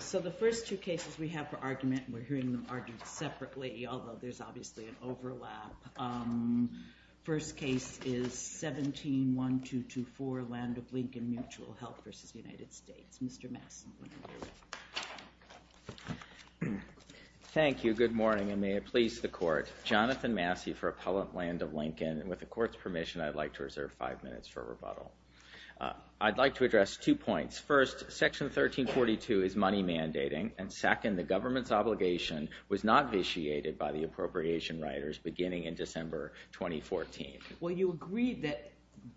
So the first two cases we have for argument, and we're hearing them argued separately, although there's obviously an overlap. First case is 17-1224, Land of Lincoln Mutual Health v. United States. Mr. Massey. Thank you, good morning, and may it please the Court. Jonathan Massey for Appellant Land of Lincoln, and with the Court's permission I'd like to reserve five minutes for rebuttal. I'd like to address two points. First, Section 1342 is money mandating, and second, the government's obligation was not vitiated by the appropriation riders beginning in December 2014. Well, you agree that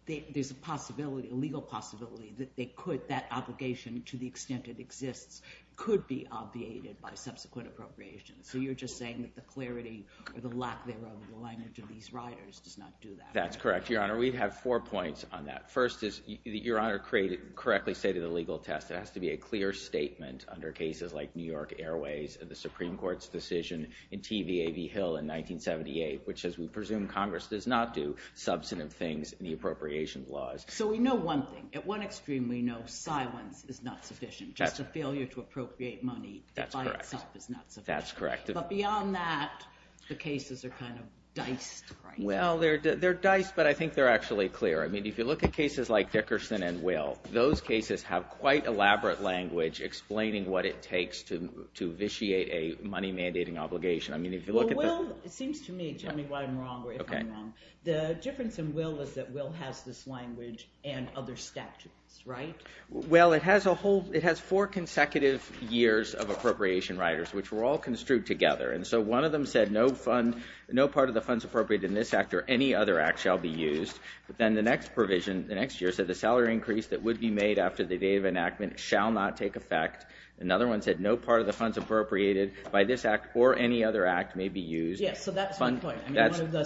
there's a possibility, a legal possibility, that that obligation, to the extent it exists, could be obviated by subsequent appropriations. So you're just saying that the clarity or the lack thereof in the language of these riders does not do that. That's correct, Your Honor. We have four points on that. First, as Your Honor correctly stated in the legal test, it has to be a clear statement under cases like New York Airways, the Supreme Court's decision in TVA v. Hill in 1978, which says we presume Congress does not do substantive things in the appropriations laws. So we know one thing. At one extreme, we know silence is not sufficient. Just a failure to appropriate money by itself is not sufficient. That's correct. But beyond that, the cases are kind of diced, right? Well, they're diced, but I think they're actually clear. I mean, if you look at cases like Dickerson and Will, those cases have quite elaborate language explaining what it takes to vitiate a money mandating obligation. Well, Will seems to me, tell me why I'm wrong or if I'm wrong, the difference in Will is that Will has this language and other statutes, right? Well, it has four consecutive years of appropriation riders, which were all construed together. And so one of them said no part of the funds appropriated in this act or any other act shall be used. But then the next provision, the next year, said the salary increase that would be made after the date of enactment shall not take effect. Another one said no part of the funds appropriated by this act or any other act may be used. Yes, so that's one point. One of the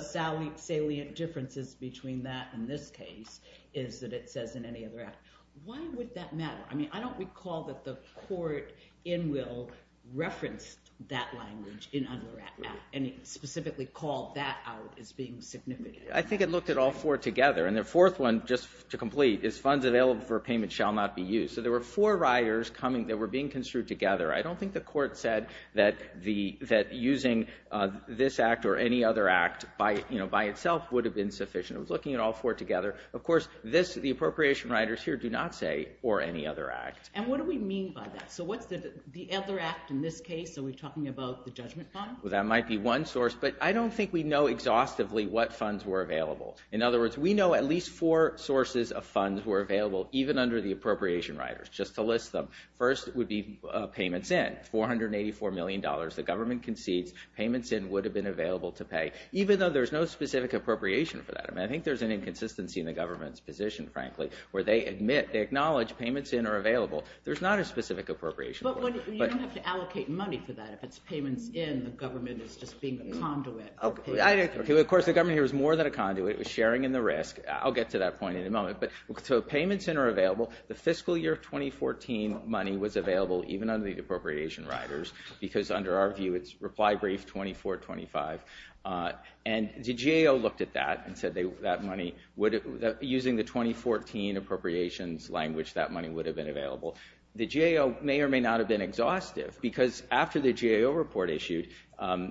salient differences between that and this case is that it says in any other act. Why would that matter? I mean, I don't recall that the court in Will referenced that language in any other act and specifically called that out as being significant. I think it looked at all four together. And the fourth one, just to complete, is funds available for payment shall not be used. So there were four riders coming that were being construed together. I don't think the court said that using this act or any other act by itself would have been sufficient. It was looking at all four together. Of course, the appropriation riders here do not say or any other act. And what do we mean by that? So what's the other act in this case? Are we talking about the judgment fund? Well, that might be one source, but I don't think we know exhaustively what funds were available. In other words, we know at least four sources of funds were available, even under the appropriation riders, just to list them. First would be payments in, $484 million. The government concedes payments in would have been available to pay, even though there's no specific appropriation for that. I think there's an inconsistency in the government's position, frankly, where they admit, they acknowledge payments in are available. There's not a specific appropriation. But you don't have to allocate money for that. If it's payments in, the government is just being a conduit. Of course, the government here is more than a conduit. It was sharing in the risk. I'll get to that point in a moment. So payments in are available. The fiscal year 2014 money was available, even under the appropriation riders, because under our view, it's reply brief 2425. And the GAO looked at that and said that money, using the 2014 appropriations language, that money would have been available. The GAO may or may not have been exhaustive, because after the GAO report issued,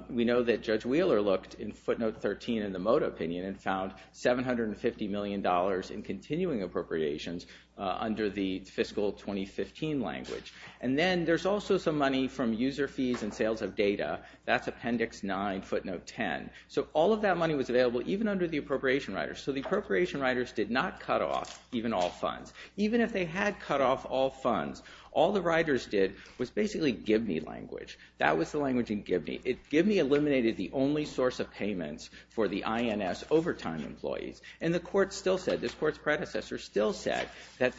we know that Judge Wheeler looked in footnote 13 in the MOTA opinion and found $750 million in continuing appropriations under the fiscal 2015 language. And then there's also some money from user fees and sales of data. That's appendix 9, footnote 10. So all of that money was available, even under the appropriation riders. So the appropriation riders did not cut off even all funds. Even if they had cut off all funds, all the riders did was basically Gibney language. That was the language in Gibney. Gibney eliminated the only source of payments for the INS overtime employees. And the court still said, this court's predecessor still said, that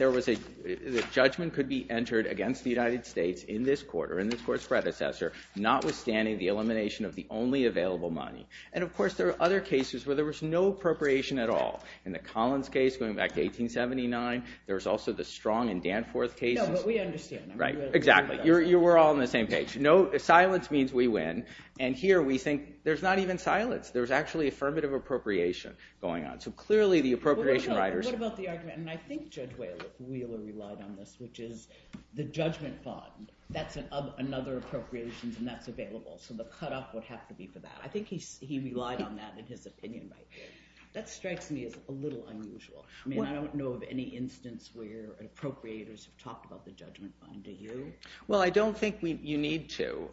judgment could be entered against the United States in this court or in this court's predecessor, notwithstanding the elimination of the only available money. And of course, there are other cases where there was no appropriation at all. In the Collins case, going back to 1879, there was also the Strong and Danforth cases. No, but we understand. Right, exactly. You were all on the same page. No, silence means we win. And here we think, there's not even silence. There's actually affirmative appropriation going on. So clearly, the appropriation riders. What about the argument? And I think Judge Wheeler relied on this, which is the judgment bond. That's another appropriations, and that's available. So the cutoff would have to be for that. I think he relied on that in his opinion right there. That strikes me as a little unusual. I mean, I don't know of any instance where appropriators have talked about the judgment bond. Do you? Well, I don't think you need to.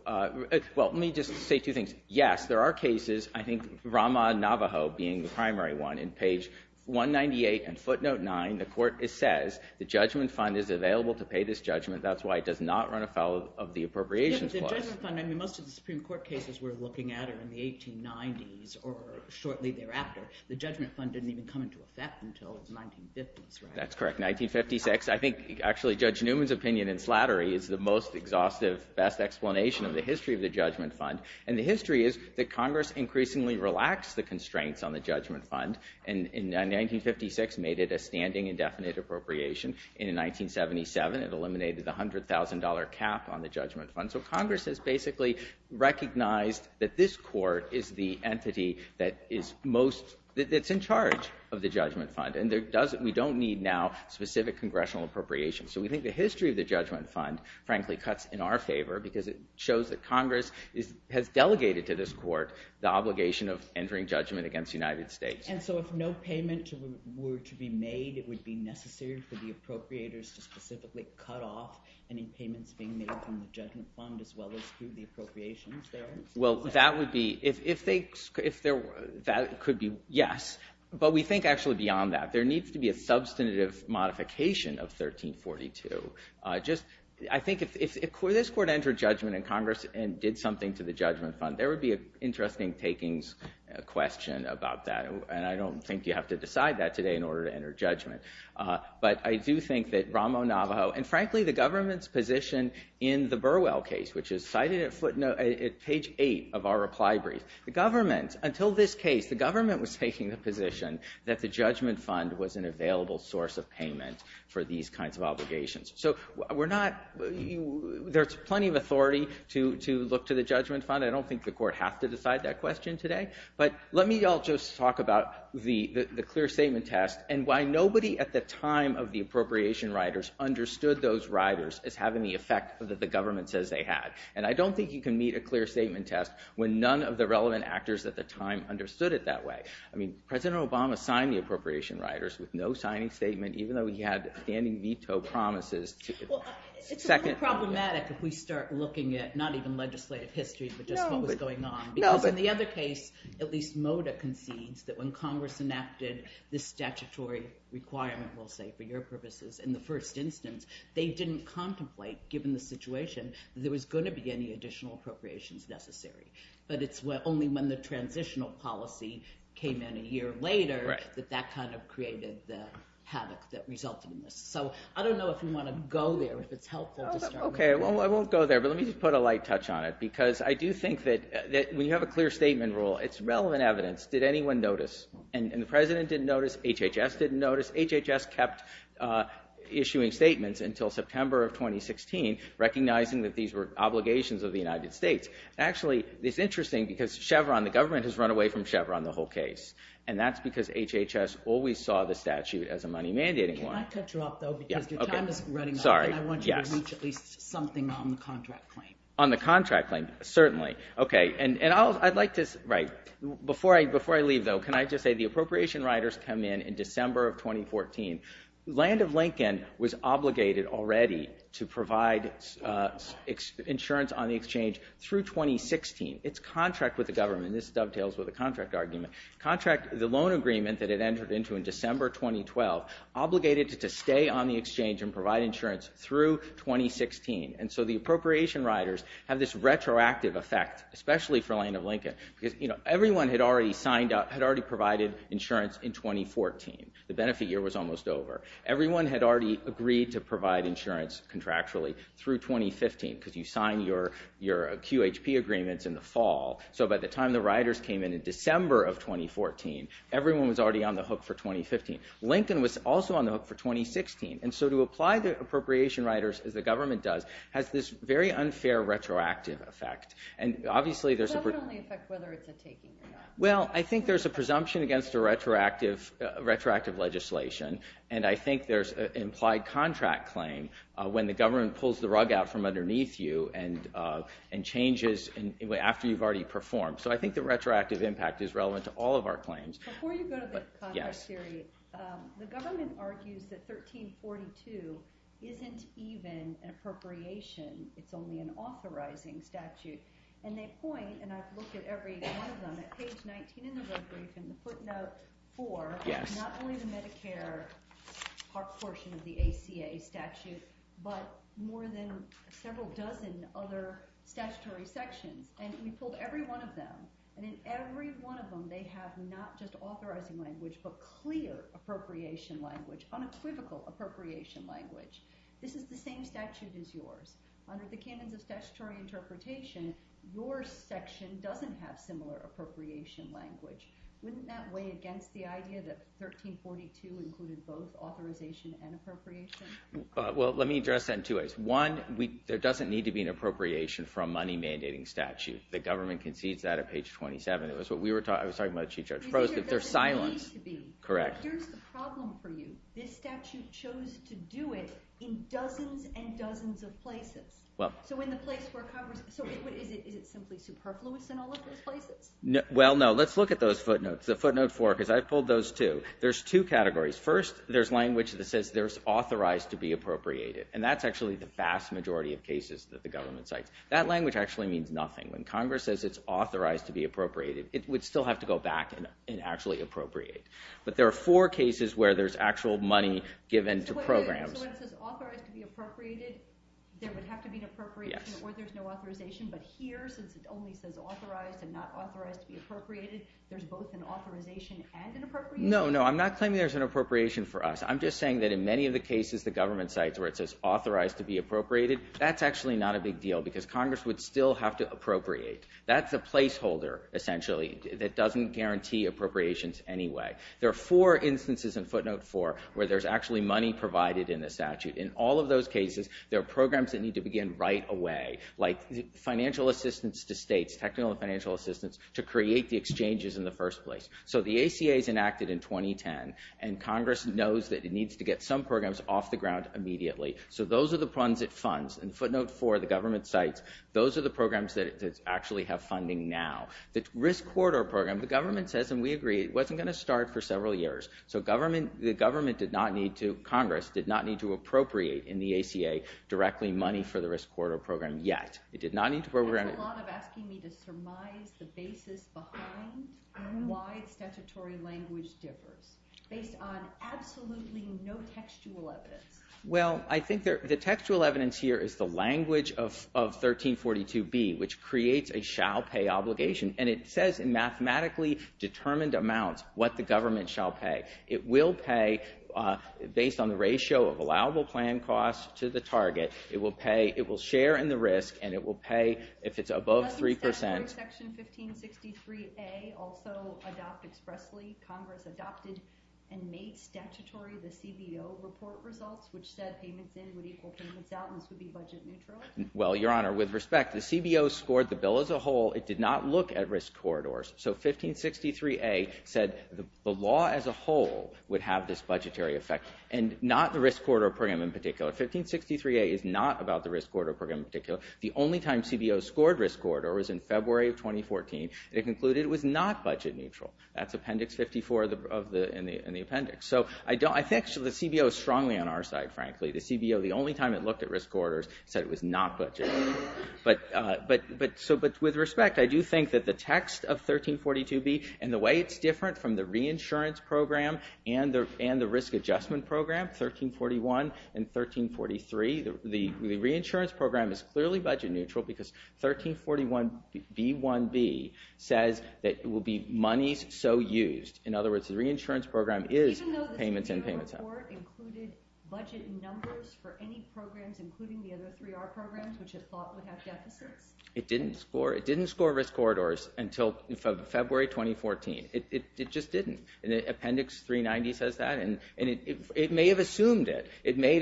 Well, let me just say two things. Yes, there are cases, I think Rama and Navajo being the primary one. In page 198 and footnote 9, the court says the judgment fund is available to pay this judgment. That's why it does not run afoul of the appropriations clause. Yeah, but the judgment fund, I mean, most of the Supreme Court cases we're looking at are in the 1890s or shortly thereafter. The judgment fund didn't even come into effect until the 1950s, right? That's correct, 1956. I think actually Judge Newman's opinion in Slattery is the most exhaustive, best explanation of the history of the judgment fund. And the history is that Congress increasingly relaxed the constraints on the judgment fund. In 1956, made it a standing indefinite appropriation. In 1977, it eliminated the $100,000 cap on the judgment fund. So Congress has basically recognized that this court is the entity that is most, that's in charge of the judgment fund. And we don't need now specific congressional appropriations. So we think the history of the judgment fund, frankly, cuts in our favor because it shows that Congress has delegated to this court the obligation of entering judgment against the United States. And so if no payment were to be made, it would be necessary for the appropriators to specifically cut off any payments being made from the judgment fund as well as through the appropriations there? Well, that would be, if they, that could be, yes. But we think actually beyond that. There needs to be a substantive modification of 1342. Just, I think if this court entered judgment in Congress and did something to the judgment fund, there would be an interesting takings question about that. And I don't think you have to decide that today in order to enter judgment. But I do think that Ramo Navajo, and frankly, the government's position in the Burwell case, which is cited at footnote, at page 8 of our reply brief. The government, until this case, the government was taking the position that the judgment fund was an available source of payment for these kinds of obligations. So we're not, there's plenty of authority to look to the judgment fund. I don't think the court has to decide that question today. But let me all just talk about the clear statement test and why nobody at the time of the appropriation riders understood those riders as having the effect that the government says they had. And I don't think you can meet a clear statement test when none of the relevant actors at the time understood it that way. I mean, President Obama signed the appropriation riders with no signing statement, even though he had standing veto promises. Well, it's a little problematic if we start looking at not even legislative history, but just what was going on. Because in the other case, at least Mota concedes that when Congress enacted this statutory requirement, we'll say, for your purposes in the first instance, they didn't contemplate, given the situation, that there was going to be any additional appropriations necessary. But it's only when the transitional policy came in a year later that that kind of created the havoc that resulted in this. So I don't know if you want to go there, if it's helpful to start with. Okay, well, I won't go there. But let me just put a light touch on it, because I do think that when you have a clear statement rule, it's relevant evidence. Did anyone notice? And the President didn't notice. HHS didn't notice. HHS kept issuing statements until September of 2016, recognizing that these were obligations of the United States. Actually, it's interesting, because Chevron, the government, has run away from Chevron the whole case. And that's because HHS always saw the statute as a money-mandating one. Can I cut you off, though, because your time is running up, and I want you to reach at least something on the contract claim. On the contract claim, certainly. Okay, and I'd like to, right, before I leave, though, can I just say the appropriation riders come in in December of 2014. Land of Lincoln was obligated already to provide insurance on the exchange through 2016. Its contract with the government, and this dovetails with the contract argument, the loan agreement that it entered into in December 2012, obligated it to stay on the exchange and provide insurance through 2016. And so the appropriation riders have this retroactive effect, especially for Land of Lincoln, because everyone had already signed up, had already provided insurance in 2014. The benefit year was almost over. Everyone had already agreed to provide insurance contractually through 2015, because you sign your QHP agreements in the fall. So by the time the riders came in in December of 2014, everyone was already on the hook for 2015. Lincoln was also on the hook for 2016. And so to apply the appropriation riders, as the government does, has this very unfair retroactive effect. And obviously there's a- Does that only affect whether it's a taking or not? Well, I think there's a presumption against a retroactive legislation, and I think there's an implied contract claim when the government pulls the rug out from underneath you and changes after you've already performed. So I think the retroactive impact is relevant to all of our claims. Before you go to the contract theory, the government argues that 1342 isn't even an appropriation. It's only an authorizing statute. And they point, and I've looked at every one of them, at page 19 in the road brief and the footnote, for not only the Medicare portion of the ACA statute, but more than several dozen other statutory sections. And we pulled every one of them. And in every one of them, they have not just authorizing language, but clear appropriation language, unequivocal appropriation language. This is the same statute as yours. Under the canons of statutory interpretation, your section doesn't have similar appropriation language. Wouldn't that weigh against the idea that 1342 included both authorization and appropriation? Well, let me address that in two ways. One, there doesn't need to be an appropriation for a money-mandating statute. The government concedes that at page 27. It was what we were talking about. I was talking about the Chief Judge's prose. There's silence. Correct. Here's the problem for you. This statute chose to do it in dozens and dozens of places. So is it simply superfluous in all of those places? Well, no. Let's look at those footnotes, the footnote four, because I pulled those, too. There's two categories. First, there's language that says there's authorized to be appropriated. And that's actually the vast majority of cases that the government cites. That language actually means nothing. When Congress says it's authorized to be appropriated, it would still have to go back and actually appropriate. But there are four cases where there's actual money given to programs. So when it says authorized to be appropriated, there would have to be an appropriation or there's no authorization. But here, since it only says authorized and not authorized to be appropriated, there's both an authorization and an appropriation? No, no. I'm not claiming there's an appropriation for us. I'm just saying that in many of the cases the government cites where it says authorized to be appropriated, that's actually not a big deal. Because Congress would still have to appropriate. That's a placeholder, essentially, that doesn't guarantee appropriations anyway. There are four instances in footnote four where there's actually money provided in the statute. In all of those cases, there are programs that need to begin right away, like financial assistance to states, technical and financial assistance, to create the exchanges in the first place. So the ACA is enacted in 2010, and Congress knows that it needs to get some programs off the ground immediately. So those are the funds it funds. In footnote four, the government cites, those are the programs that actually have funding now. The Risk Corridor Program, the government says, and we agree, it wasn't going to start for several years. So the government did not need to, Congress did not need to appropriate in the ACA directly money for the Risk Corridor Program yet. It did not need to program it. That's a lot of asking me to surmise the basis behind why statutory language differs based on absolutely no textual evidence. Well, I think the textual evidence here is the language of 1342B, which creates a shall pay obligation, and it says in mathematically determined amounts what the government shall pay. It will pay based on the ratio of allowable plan costs to the target. It will pay, it will share in the risk, and it will pay if it's above three percent. Section 1563A also adopt expressly, Congress adopted and made statutory the CBO report results, which said payments in would equal payments out, and this would be budget neutral. Well, Your Honor, with respect, the CBO scored the bill as a whole. It did not look at risk corridors. So 1563A said the law as a whole would have this budgetary effect and not the Risk Corridor Program in particular. 1563A is not about the Risk Corridor Program in particular. The only time CBO scored Risk Corridor was in February of 2014. It concluded it was not budget neutral. That's Appendix 54 in the appendix. So I think the CBO is strongly on our side, frankly. The CBO, the only time it looked at Risk Corridors, said it was not budget neutral. But with respect, I do think that the text of 1342B and the way it's different from the Reinsurance Program and the Risk Adjustment Program, 1341 and 1343, the Reinsurance Program is clearly budget neutral because 1341B1B says that it will be monies so used. In other words, the Reinsurance Program is payments in, payments out. Even though the CBO report included budget numbers for any programs, including the other 3R programs, which it thought would have deficits? It didn't score Risk Corridors until February 2014. It just didn't. And Appendix 390 says that. And it may have assumed it. It may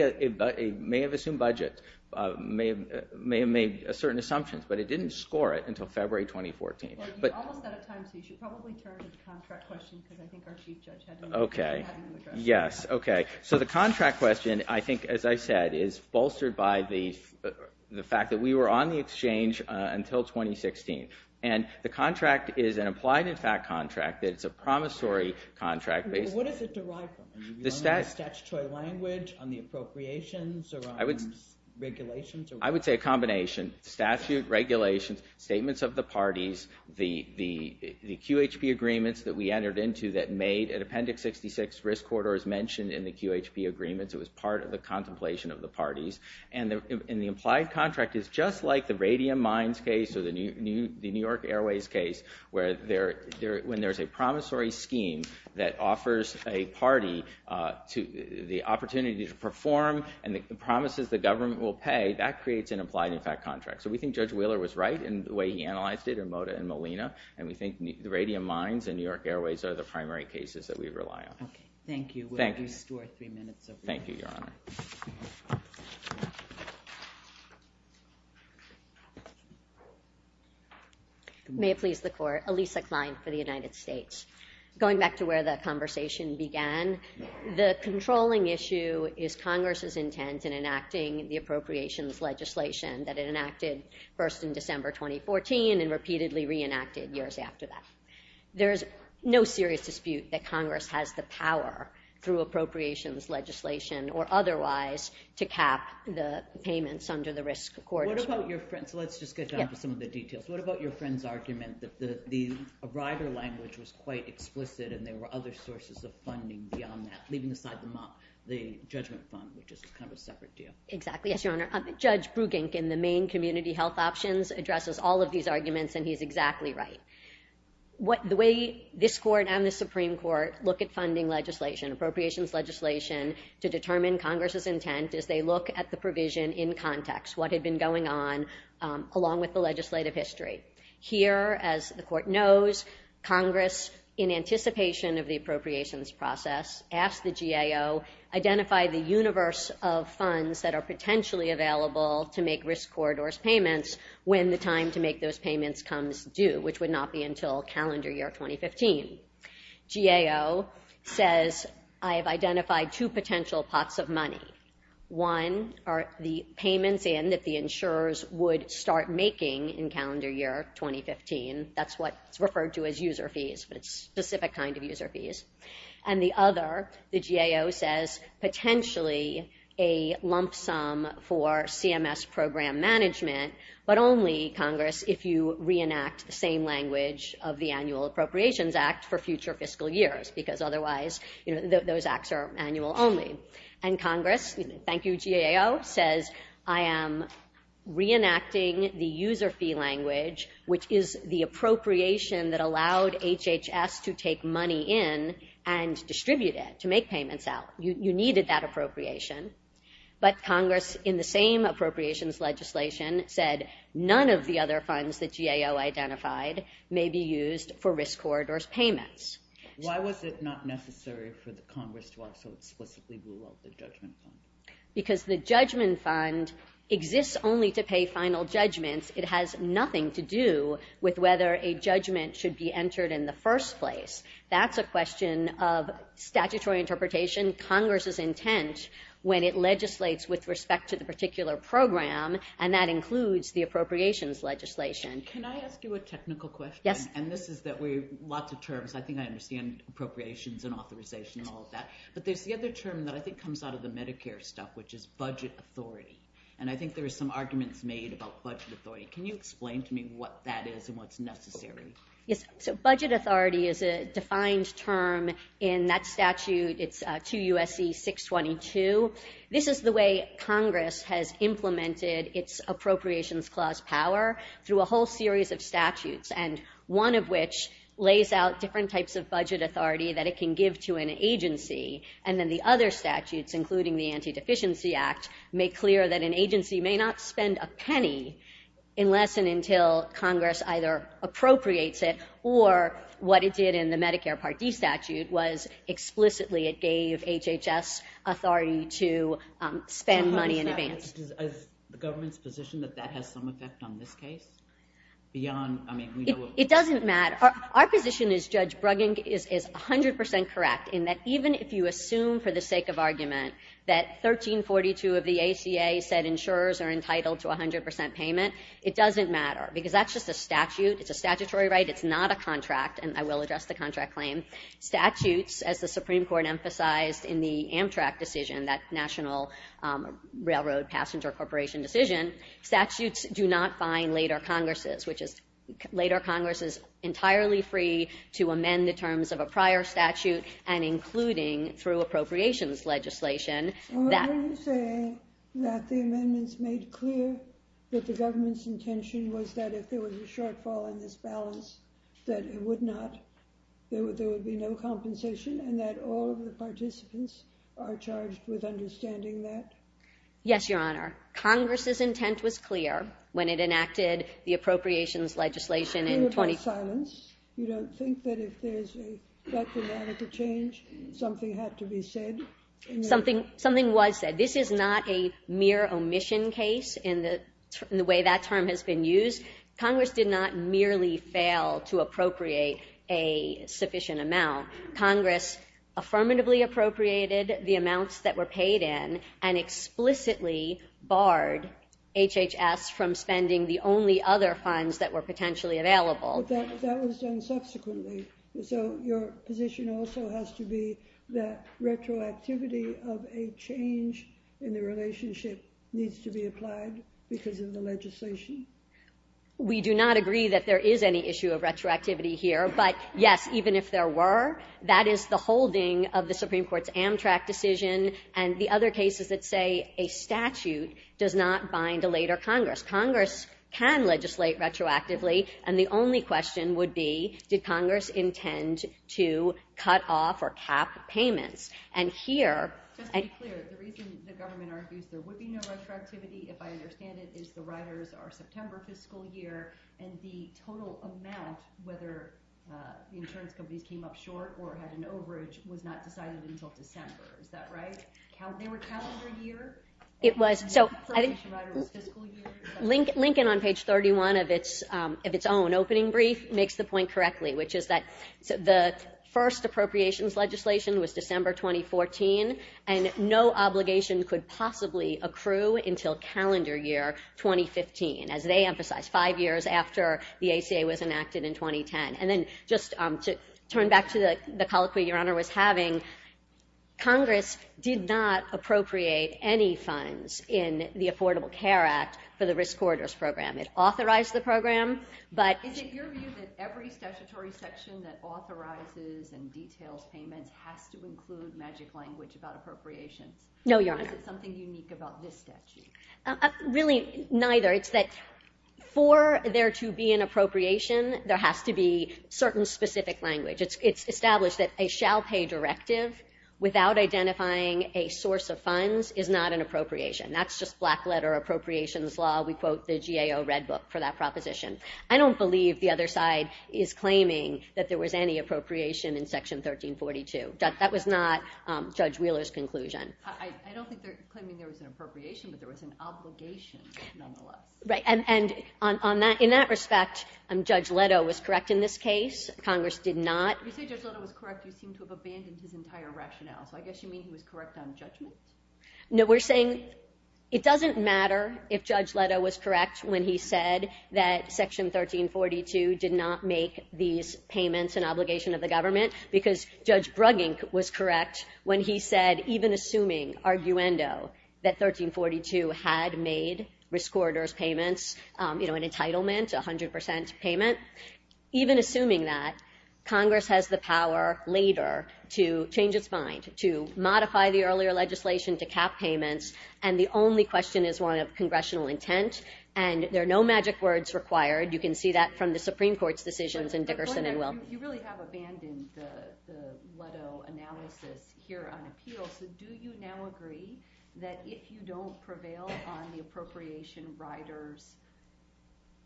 have assumed budget, may have made certain assumptions. But it didn't score it until February 2014. You're almost out of time, so you should probably turn to the contract question because I think our Chief Judge had an address. Yes, okay. So the contract question, I think, as I said, is bolstered by the fact that we were on the exchange until 2016. And the contract is an applied-in-fact contract. It's a promissory contract. What does it derive from? The statutory language on the appropriations or on regulations? I would say a combination. Statute, regulations, statements of the parties, the QHP agreements that we entered into that made an Appendix 66 Risk Corridors mentioned in the QHP agreements. It was part of the contemplation of the parties. And the implied contract is just like the Radium Mines case or the New York Airways case where when there's a promissory scheme that offers a party the opportunity to perform and the promises the government will pay, that creates an applied-in-fact contract. So we think Judge Wheeler was right in the way he analyzed it in Mota and Molina. And we think the Radium Mines and New York Airways are the primary cases that we rely on. Okay, thank you. We'll restore three minutes of your time. Thank you, Your Honor. Thank you. May it please the Court. Elisa Klein for the United States. Going back to where the conversation began, the controlling issue is Congress's intent in enacting the appropriations legislation that it enacted first in December 2014 and repeatedly reenacted years after that. There is no serious dispute that Congress has the power through appropriations legislation or otherwise to cap the payments under the Risk Accord. So let's just get down to some of the details. What about your friend's argument that the Arriver language was quite explicit and there were other sources of funding beyond that, leaving aside the Judgment Fund, which is kind of a separate deal? Exactly, yes, Your Honor. Judge Brugink in the main community health options addresses all of these arguments and he's exactly right. The way this Court and the Supreme Court look at funding legislation, appropriations legislation, to determine Congress's intent is they look at the provision in context, what had been going on along with the legislative history. Here, as the Court knows, Congress, in anticipation of the appropriations process, asked the GAO, identify the universe of funds that are potentially available to make Risk Corridor's payments when the time to make those payments comes due, which would not be until calendar year 2015. GAO says, I have identified two potential pots of money. One are the payments in that the insurers would start making in calendar year 2015. That's what's referred to as user fees, but it's a specific kind of user fees. And the other, the GAO says, potentially a lump sum for CMS program management, but only, Congress, if you reenact the same language of the Annual Appropriations Act for future fiscal years, because otherwise those acts are annual only. And Congress, thank you, GAO, says, I am reenacting the user fee language, which is the appropriation that allowed HHS to take money in and distribute it, to make payments out. You needed that appropriation. But Congress, in the same appropriations legislation, said, none of the other funds that GAO identified may be used for Risk Corridor's payments. Why was it not necessary for the Congress to also explicitly rule out the judgment fund? Because the judgment fund exists only to pay final judgments. It has nothing to do with whether a judgment should be entered in the first place. That's a question of statutory interpretation. Congress's intent when it legislates with respect to the particular program, and that includes the appropriations legislation. Can I ask you a technical question? Yes. And this is that we have lots of terms. I think I understand appropriations and authorization and all of that. But there's the other term that I think comes out of the Medicare stuff, which is budget authority. And I think there are some arguments made about budget authority. Can you explain to me what that is and what's necessary? Yes. So budget authority is a defined term in that statute. It's 2 U.S.C. 622. This is the way Congress has implemented its appropriations clause power through a whole series of statutes, and one of which lays out different types of budget authority that it can give to an agency. And then the other statutes, including the Anti-Deficiency Act, make clear that an agency may not spend a penny unless and until Congress either appropriates it or what it did in the Medicare Part D statute was explicitly it gave HHS authority to spend money in advance. Is the government's position that that has some effect on this case? It doesn't matter. Our position as Judge Bruggen is 100% correct in that even if you assume for the sake of argument that 1342 of the ACA said insurers are entitled to 100% payment, it doesn't matter because that's just a statute. It's a statutory right. It's not a contract, and I will address the contract claim. Statutes, as the Supreme Court emphasized in the Amtrak decision, that National Railroad Passenger Corporation decision, statutes do not bind later Congresses, which is later Congress is entirely free to amend the terms of a prior statute and including through appropriations legislation that... that it would not, there would be no compensation and that all of the participants are charged with understanding that? Yes, Your Honor. Congress's intent was clear when it enacted the appropriations legislation in 20... Something was said. This is not a mere omission case in the way that term has been used. Congress did not merely fail to appropriate a sufficient amount. Congress affirmatively appropriated the amounts that were paid in and explicitly barred HHS from spending the only other funds that were potentially available. But that was done subsequently, so your position also has to be that retroactivity of a change in the relationship needs to be applied because of the legislation. We do not agree that there is any issue of retroactivity here, but yes, even if there were, that is the holding of the Supreme Court's Amtrak decision and the other cases that say a statute does not bind a later Congress. Congress can legislate retroactively, and the only question would be, did Congress intend to cut off or cap payments? And here... Just to be clear, the reason the government argues there would be no retroactivity, if I understand it, is the riders are September fiscal year, and the total amount, whether the insurance companies came up short or had an overage, was not decided until December. Is that right? They were counted per year? It was. So I think... Lincoln on page 31 of its own opening brief makes the point correctly, which is that the first appropriations legislation was December 2014, and no obligation could possibly accrue until calendar year 2015, as they emphasized, five years after the ACA was enacted in 2010. And then just to turn back to the colloquy Your Honor was having, Congress did not appropriate any funds in the Affordable Care Act for the Risk Corridors Program. It authorized the program, but... Is it your view that every statutory section that authorizes and details payments has to include magic language about appropriations? No, Your Honor. Or is it something unique about this statute? Really, neither. It's that for there to be an appropriation, there has to be certain specific language. It's established that a shall pay directive without identifying a source of funds is not an appropriation. That's just black letter appropriations law. We quote the GAO Red Book for that proposition. I don't believe the other side is claiming that there was any appropriation in Section 1342. That was not Judge Wheeler's conclusion. I don't think they're claiming there was an appropriation, but there was an obligation, nonetheless. Right. And in that respect, Judge Leto was correct in this case. Congress did not. You say Judge Leto was correct. You seem to have abandoned his entire rationale. So I guess you mean he was correct on judgment? No, we're saying it doesn't matter if Judge Leto was correct when he said that Section 1342 did not make these payments an obligation of the government, because Judge Bruggink was correct when he said, even assuming, arguendo, that 1342 had made risk orators payments an entitlement, a 100% payment, even assuming that, Congress has the power later to change its mind, to modify the earlier legislation to cap payments, and the only question is one of congressional intent and there are no magic words required. You can see that from the Supreme Court's decisions in Dickerson and Will. You really have abandoned the Leto analysis here on appeal, so do you now agree that if you don't prevail on the appropriation writers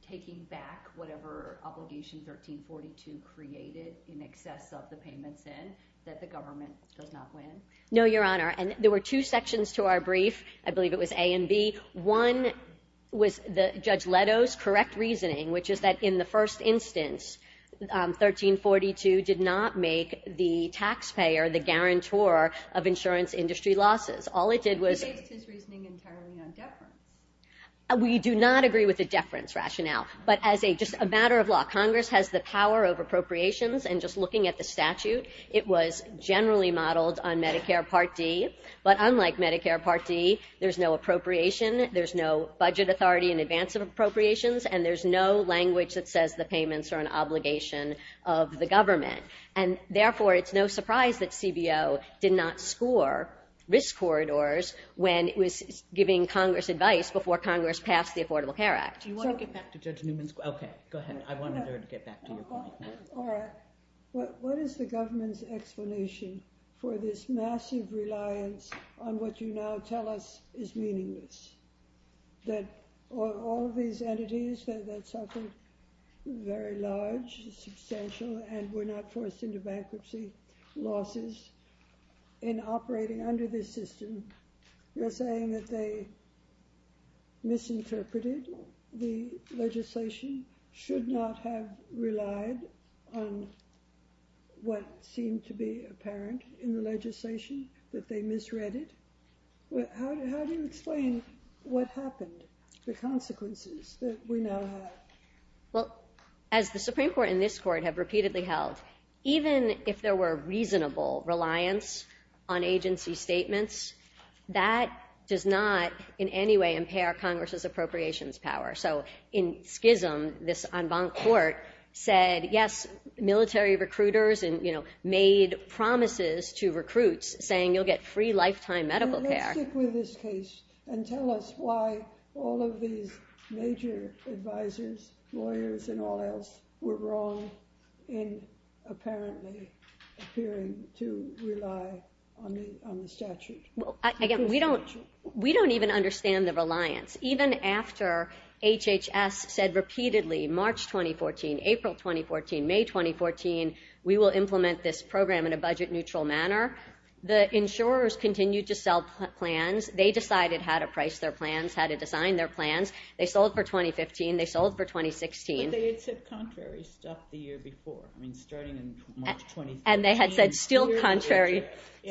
taking back whatever Obligation 1342 created in excess of the payments in, that the government does not win? No, Your Honor. And there were two sections to our brief. I believe it was A and B. One was Judge Leto's correct reasoning, which is that in the first instance, 1342 did not make the taxpayer the guarantor of insurance industry losses. All it did was... He based his reasoning entirely on deference. We do not agree with the deference rationale, but as a matter of law, Congress has the power of appropriations, and just looking at the statute, it was generally modeled on Medicare Part D, but unlike Medicare Part D, there's no appropriation, there's no budget authority in advance of appropriations, and there's no language that says the payments are an obligation of the government, and therefore it's no surprise that CBO did not score risk corridors when it was giving Congress advice before Congress passed the Affordable Care Act. Do you want to get back to Judge Newman's question? Okay, go ahead. I wanted her to get back to your point. All right. What is the government's explanation for this massive reliance on what you now tell us is meaningless? That all of these entities that suffered very large, substantial, and were not forced into bankruptcy losses in operating under this system, you're saying that they misinterpreted the legislation, should not have relied on what seemed to be apparent in the legislation, that they misread it? How do you explain what happened, the consequences that we now have? Well, as the Supreme Court and this Court have repeatedly held, even if there were reasonable reliance on agency statements, that does not in any way impair Congress's appropriations power. So in schism, this en banc court said, yes, military recruiters made promises to recruits saying you'll get free lifetime medical care. Let's stick with this case and tell us why all of these major advisors, lawyers, and all else were wrong in apparently appearing to rely on the statute. Again, we don't even understand the reliance. Even after HHS said repeatedly, March 2014, April 2014, May 2014, we will implement this program in a budget-neutral manner, the insurers continued to sell plans. They decided how to price their plans, how to design their plans. They sold for 2015. They sold for 2016. But they had said contrary stuff the year before. I mean, starting in March 2015. And they had said still contrary,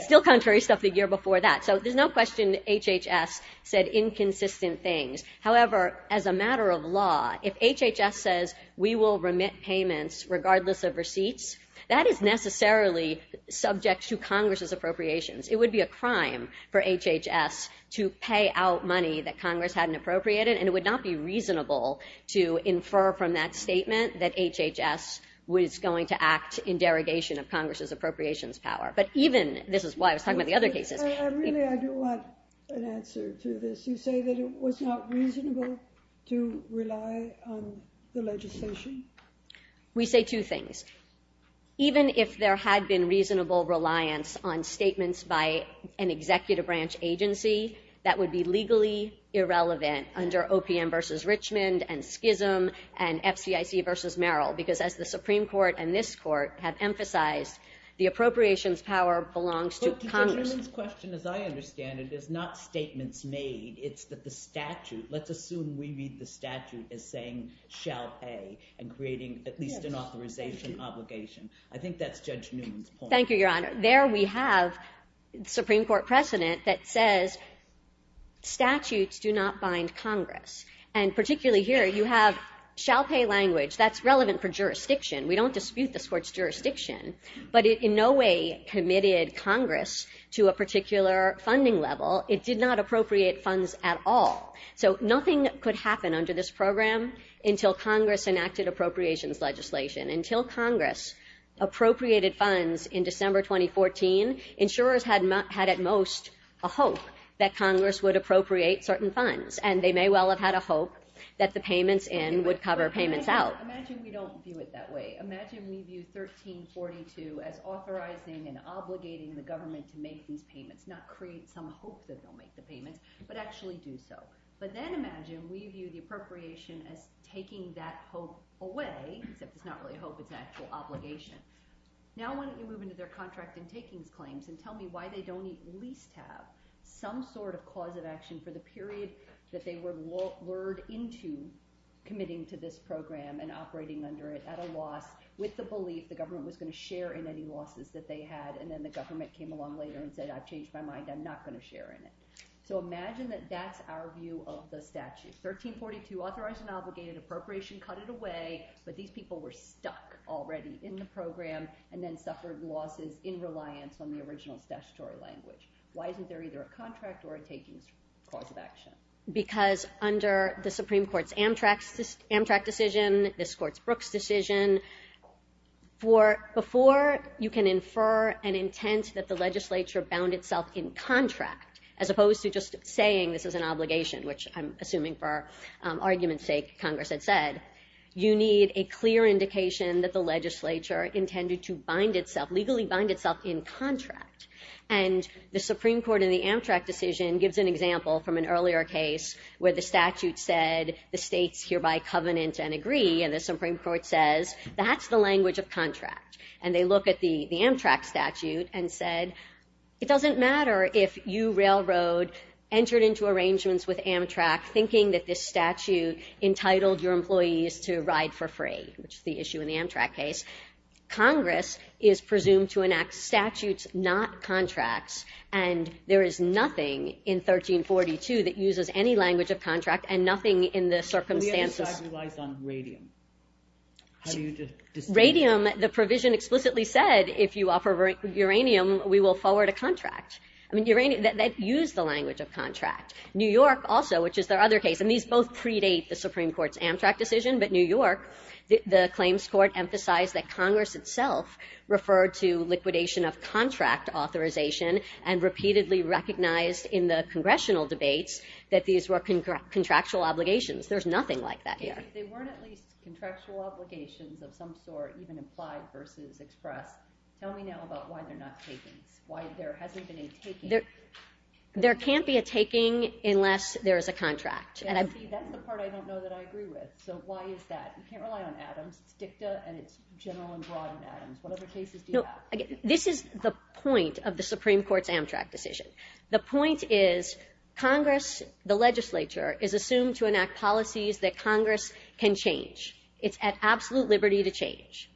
still contrary stuff the year before that. So there's no question HHS said inconsistent things. However, as a matter of law, if HHS says we will remit payments regardless of receipts, that is necessarily subject to Congress's appropriations. It would be a crime for HHS to pay out money that Congress hadn't appropriated, and it would not be reasonable to infer from that statement that HHS was going to act in derogation of Congress's appropriations power. But even, this is why I was talking about the other cases. I really, I do want an answer to this. You say that it was not reasonable to rely on the legislation? We say two things. Even if there had been reasonable reliance on statements by an executive branch agency, that would be legally irrelevant under OPM versus Richmond, and Schism, and FCIC versus Merrill. Because as the Supreme Court and this court have emphasized, the appropriations power belongs to Congress. But the gentleman's question, as I understand it, is not statements made. It's that the statute, let's assume we read the statute as saying, and creating at least an authorization obligation. I think that's Judge Newman's point. Thank you, Your Honor. There we have the Supreme Court precedent that says statutes do not bind Congress. And particularly here, you have shall pay language that's relevant for jurisdiction. We don't dispute this court's jurisdiction, but it in no way committed Congress to a particular funding level. It did not appropriate funds at all. So nothing could happen under this program until Congress enacted appropriations legislation. Until Congress appropriated funds in December 2014, insurers had at most a hope that Congress would appropriate certain funds. And they may well have had a hope that the payments in would cover payments out. Imagine we don't view it that way. Imagine we view 1342 as authorizing and obligating the government to make these payments, not create some hope that they'll make the payments, but actually do so. But then imagine we view the appropriation as taking that hope away, except it's not really hope, it's an actual obligation. Now why don't you move into their contract and takings claims and tell me why they don't at least have some sort of cause of action for the period that they were lured into committing to this program and operating under it at a loss, with the belief the government was going to share in any losses that they had, and then the government came along later and said, I've changed my mind, I'm not going to share in it. So imagine that that's our view of the statute. 1342, authorized and obligated appropriation, cut it away, but these people were stuck already in the program and then suffered losses in reliance on the original statutory language. Why isn't there either a contract or a takings clause of action? Because under the Supreme Court's Amtrak decision, this court's Brooks decision, before you can infer an intent that the legislature bound itself in contract, as opposed to just saying this is an obligation, which I'm assuming for argument's sake, Congress had said, you need a clear indication that the legislature intended to bind itself, legally bind itself in contract. And the Supreme Court in the Amtrak decision gives an example from an earlier case where the statute said, the states hereby covenant and agree, and the Supreme Court says, that's the language of contract. And they look at the Amtrak statute and said, it doesn't matter if you, Railroad, entered into arrangements with Amtrak thinking that this statute entitled your employees to ride for free, which is the issue in the Amtrak case. Congress is presumed to enact statutes, not contracts, and there is nothing in 1342 that uses any language of contract and nothing in the circumstances. The other side relies on radium. Radium, the provision explicitly said, if you offer uranium, we will forward a contract. I mean, uranium, that used the language of contract. New York also, which is their other case, and these both predate the Supreme Court's Amtrak decision, but New York, the claims court emphasized that Congress itself referred to liquidation of contract authorization and repeatedly recognized in the congressional debates that these were contractual obligations. There's nothing like that here. If they weren't at least contractual obligations of some sort, even implied versus expressed, tell me now about why they're not takings, why there hasn't been a taking. There can't be a taking unless there is a contract. That's the part I don't know that I agree with, so why is that? You can't rely on atoms. It's dicta, and it's general and broad in atoms. What other cases do you have? This is the point of the Supreme Court's Amtrak decision. The point is, Congress, the legislature, is assumed to enact policies that Congress can change. It's at absolute liberty to change.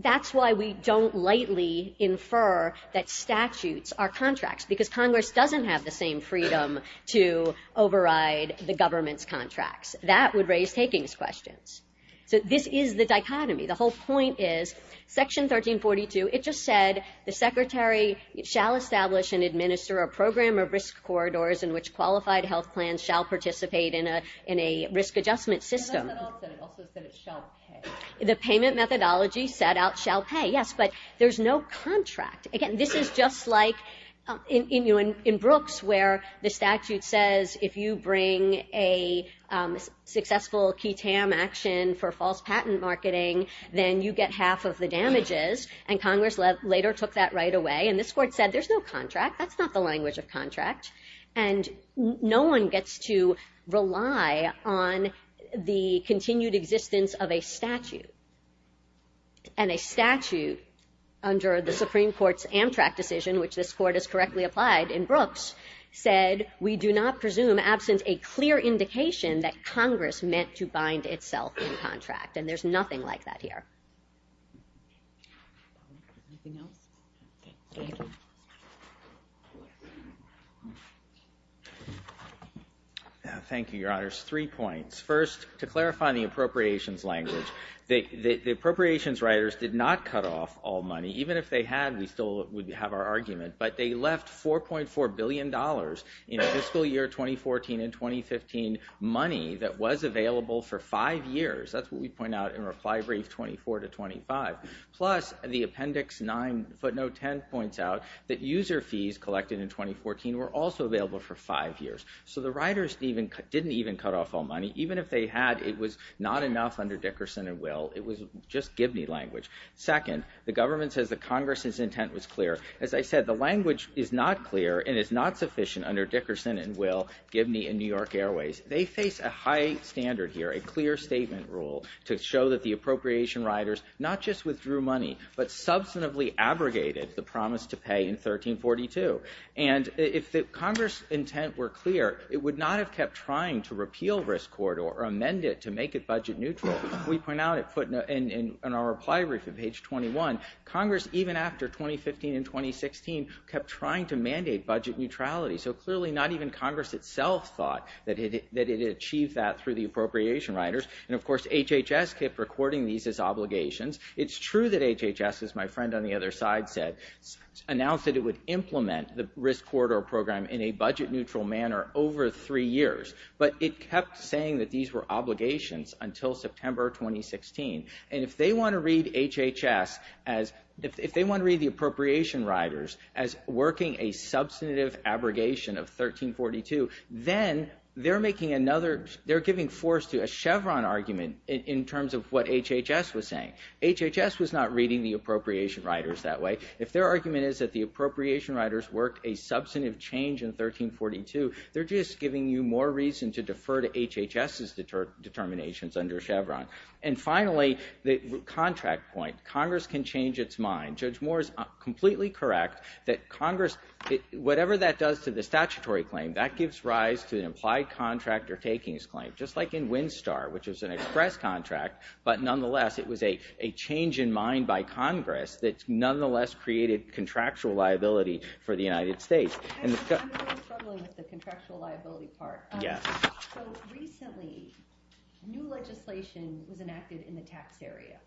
That's why we don't lightly infer that statutes are contracts, because Congress doesn't have the same freedom to override the government's contracts. That would raise takings questions. This is the dichotomy. The whole point is, Section 1342, it just said, the secretary shall establish and administer a program of risk corridors in which qualified health plans shall participate in a risk adjustment system. It also said it shall pay. The payment methodology set out shall pay, yes, but there's no contract. Again, this is just like in Brooks, where the statute says if you bring a successful key tam action for false patent marketing, then you get half of the damages, and Congress later took that right away, and this court said, there's no contract. That's not the language of contract, and no one gets to rely on the continued existence of a statute, and a statute, under the Supreme Court's Amtrak decision, which this court has correctly applied in Brooks, said we do not presume absent a clear indication that Congress meant to bind itself in contract, and there's nothing like that here. Anything else? Thank you, Your Honors. Three points. First, to clarify in the appropriations language, the appropriations writers did not cut off all money. Even if they had, we'd still have our argument, but they left $4.4 billion in fiscal year 2014 and 2015 money that was available for five years. That's what we point out in reply brief 24 to 25, plus the appendix 9 footnote 10 points out that user fees collected in 2014 were also available for five years, so the writers didn't even cut off all money. Even if they had, it was not enough under Dickerson and Will. It was just Gibney language. Second, the government says that Congress's intent was clear. As I said, the language is not clear, and it's not sufficient under Dickerson and Will, Gibney, and New York Airways. They face a high standard here, a clear statement rule to show that the appropriation writers not just withdrew money, but substantively abrogated the promise to pay in 1342. If Congress's intent were clear, it would not have kept trying to repeal risk corridor or amend it to make it budget neutral. We point out it put in our reply brief at page 21. Congress, even after 2015 and 2016, kept trying to mandate budget neutrality, so clearly not even Congress itself thought that it had achieved that through the appropriation writers. Of course, HHS kept recording these as obligations. It's true that HHS, as my friend on the other side said, announced that it would implement the risk corridor program in a budget neutral manner over three years, but it kept saying that these were obligations until September 2016. If they want to read HHS, if they want to read the appropriation writers as working a substantive abrogation of 1342, then they're giving force to a Chevron argument in terms of what HHS was saying. HHS was not reading the appropriation writers that way. If their argument is that the appropriation writers worked a substantive change in 1342, they're just giving you more reason to defer to HHS's determinations under Chevron. And finally, the contract point. Congress can change its mind. Judge Moore is completely correct that Congress, whatever that does to the statutory claim, that gives rise to an implied contract or takings claim, just like in Winstar, which is an express contract, but nonetheless, it was a change in mind by Congress that nonetheless created contractual liability for the United States. Actually, I'm really struggling with the contractual liability part. Yes. Recently, new legislation was enacted in the tax area.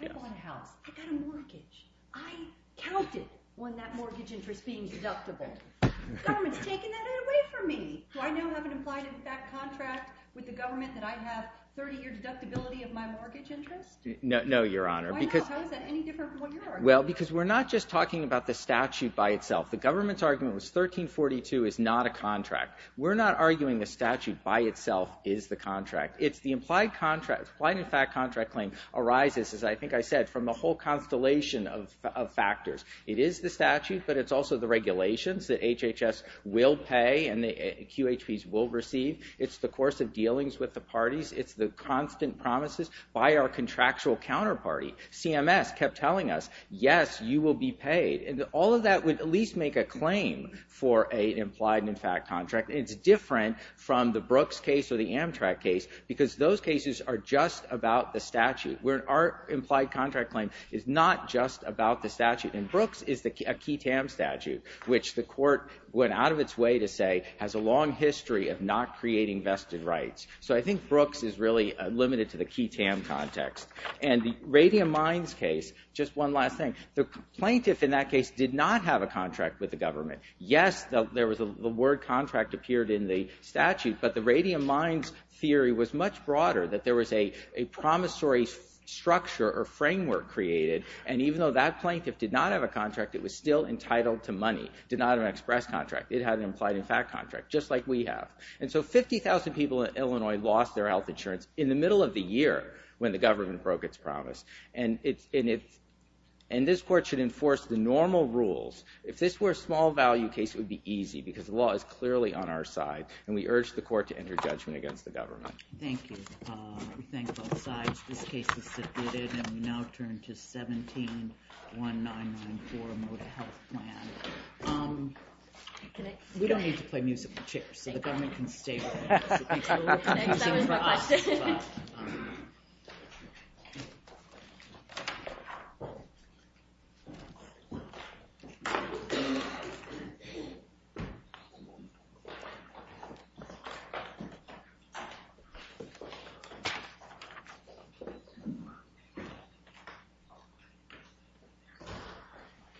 I bought a house. I got a mortgage. I counted on that mortgage interest being deductible. The government's taking that away from me. Do I now have an implied impact contract with the government that I have 30-year deductibility of my mortgage interest? No, Your Honor. Why not? How is that any different from what you're arguing? Well, because we're not just talking about the statute by itself. The government's argument was 1342 is not a contract. We're not arguing the statute by itself is the contract. It's the implied contract. The implied contract claim arises, as I think I said, from a whole constellation of factors. It is the statute, but it's also the regulations that HHS will pay and the QHPs will receive. It's the course of dealings with the parties. It's the constant promises by our contractual counterparty. CMS kept telling us, yes, you will be paid. All of that would at least make a claim for an implied impact contract. It's different from the Brooks case or the Amtrak case because those cases are just about the statute. Our implied contract claim is not just about the statute. And Brooks is a QTAM statute, which the court went out of its way to say has a long history of not creating vested rights. So I think Brooks is really limited to the QTAM context. And the Radium Mines case, just one last thing. The plaintiff in that case did not have a contract with the government. Yes, the word contract appeared in the statute, but the Radium Mines theory was much broader that there was a promissory structure or framework created. And even though that plaintiff did not have a contract, it was still entitled to money. It did not have an express contract. It had an implied impact contract, just like we have. And so 50,000 people in Illinois lost their health insurance in the middle of the year when the government broke its promise. And this court should enforce the normal rules. If this were a small value case, it would be easy because the law is clearly on our side. And we urge the court to enter judgment against the government. Thank you. We thank both sides. This case is submitted and we now turn to 17-1994 Moda Health Plan. We don't need to play music with chips, so the government can stay. That was for us.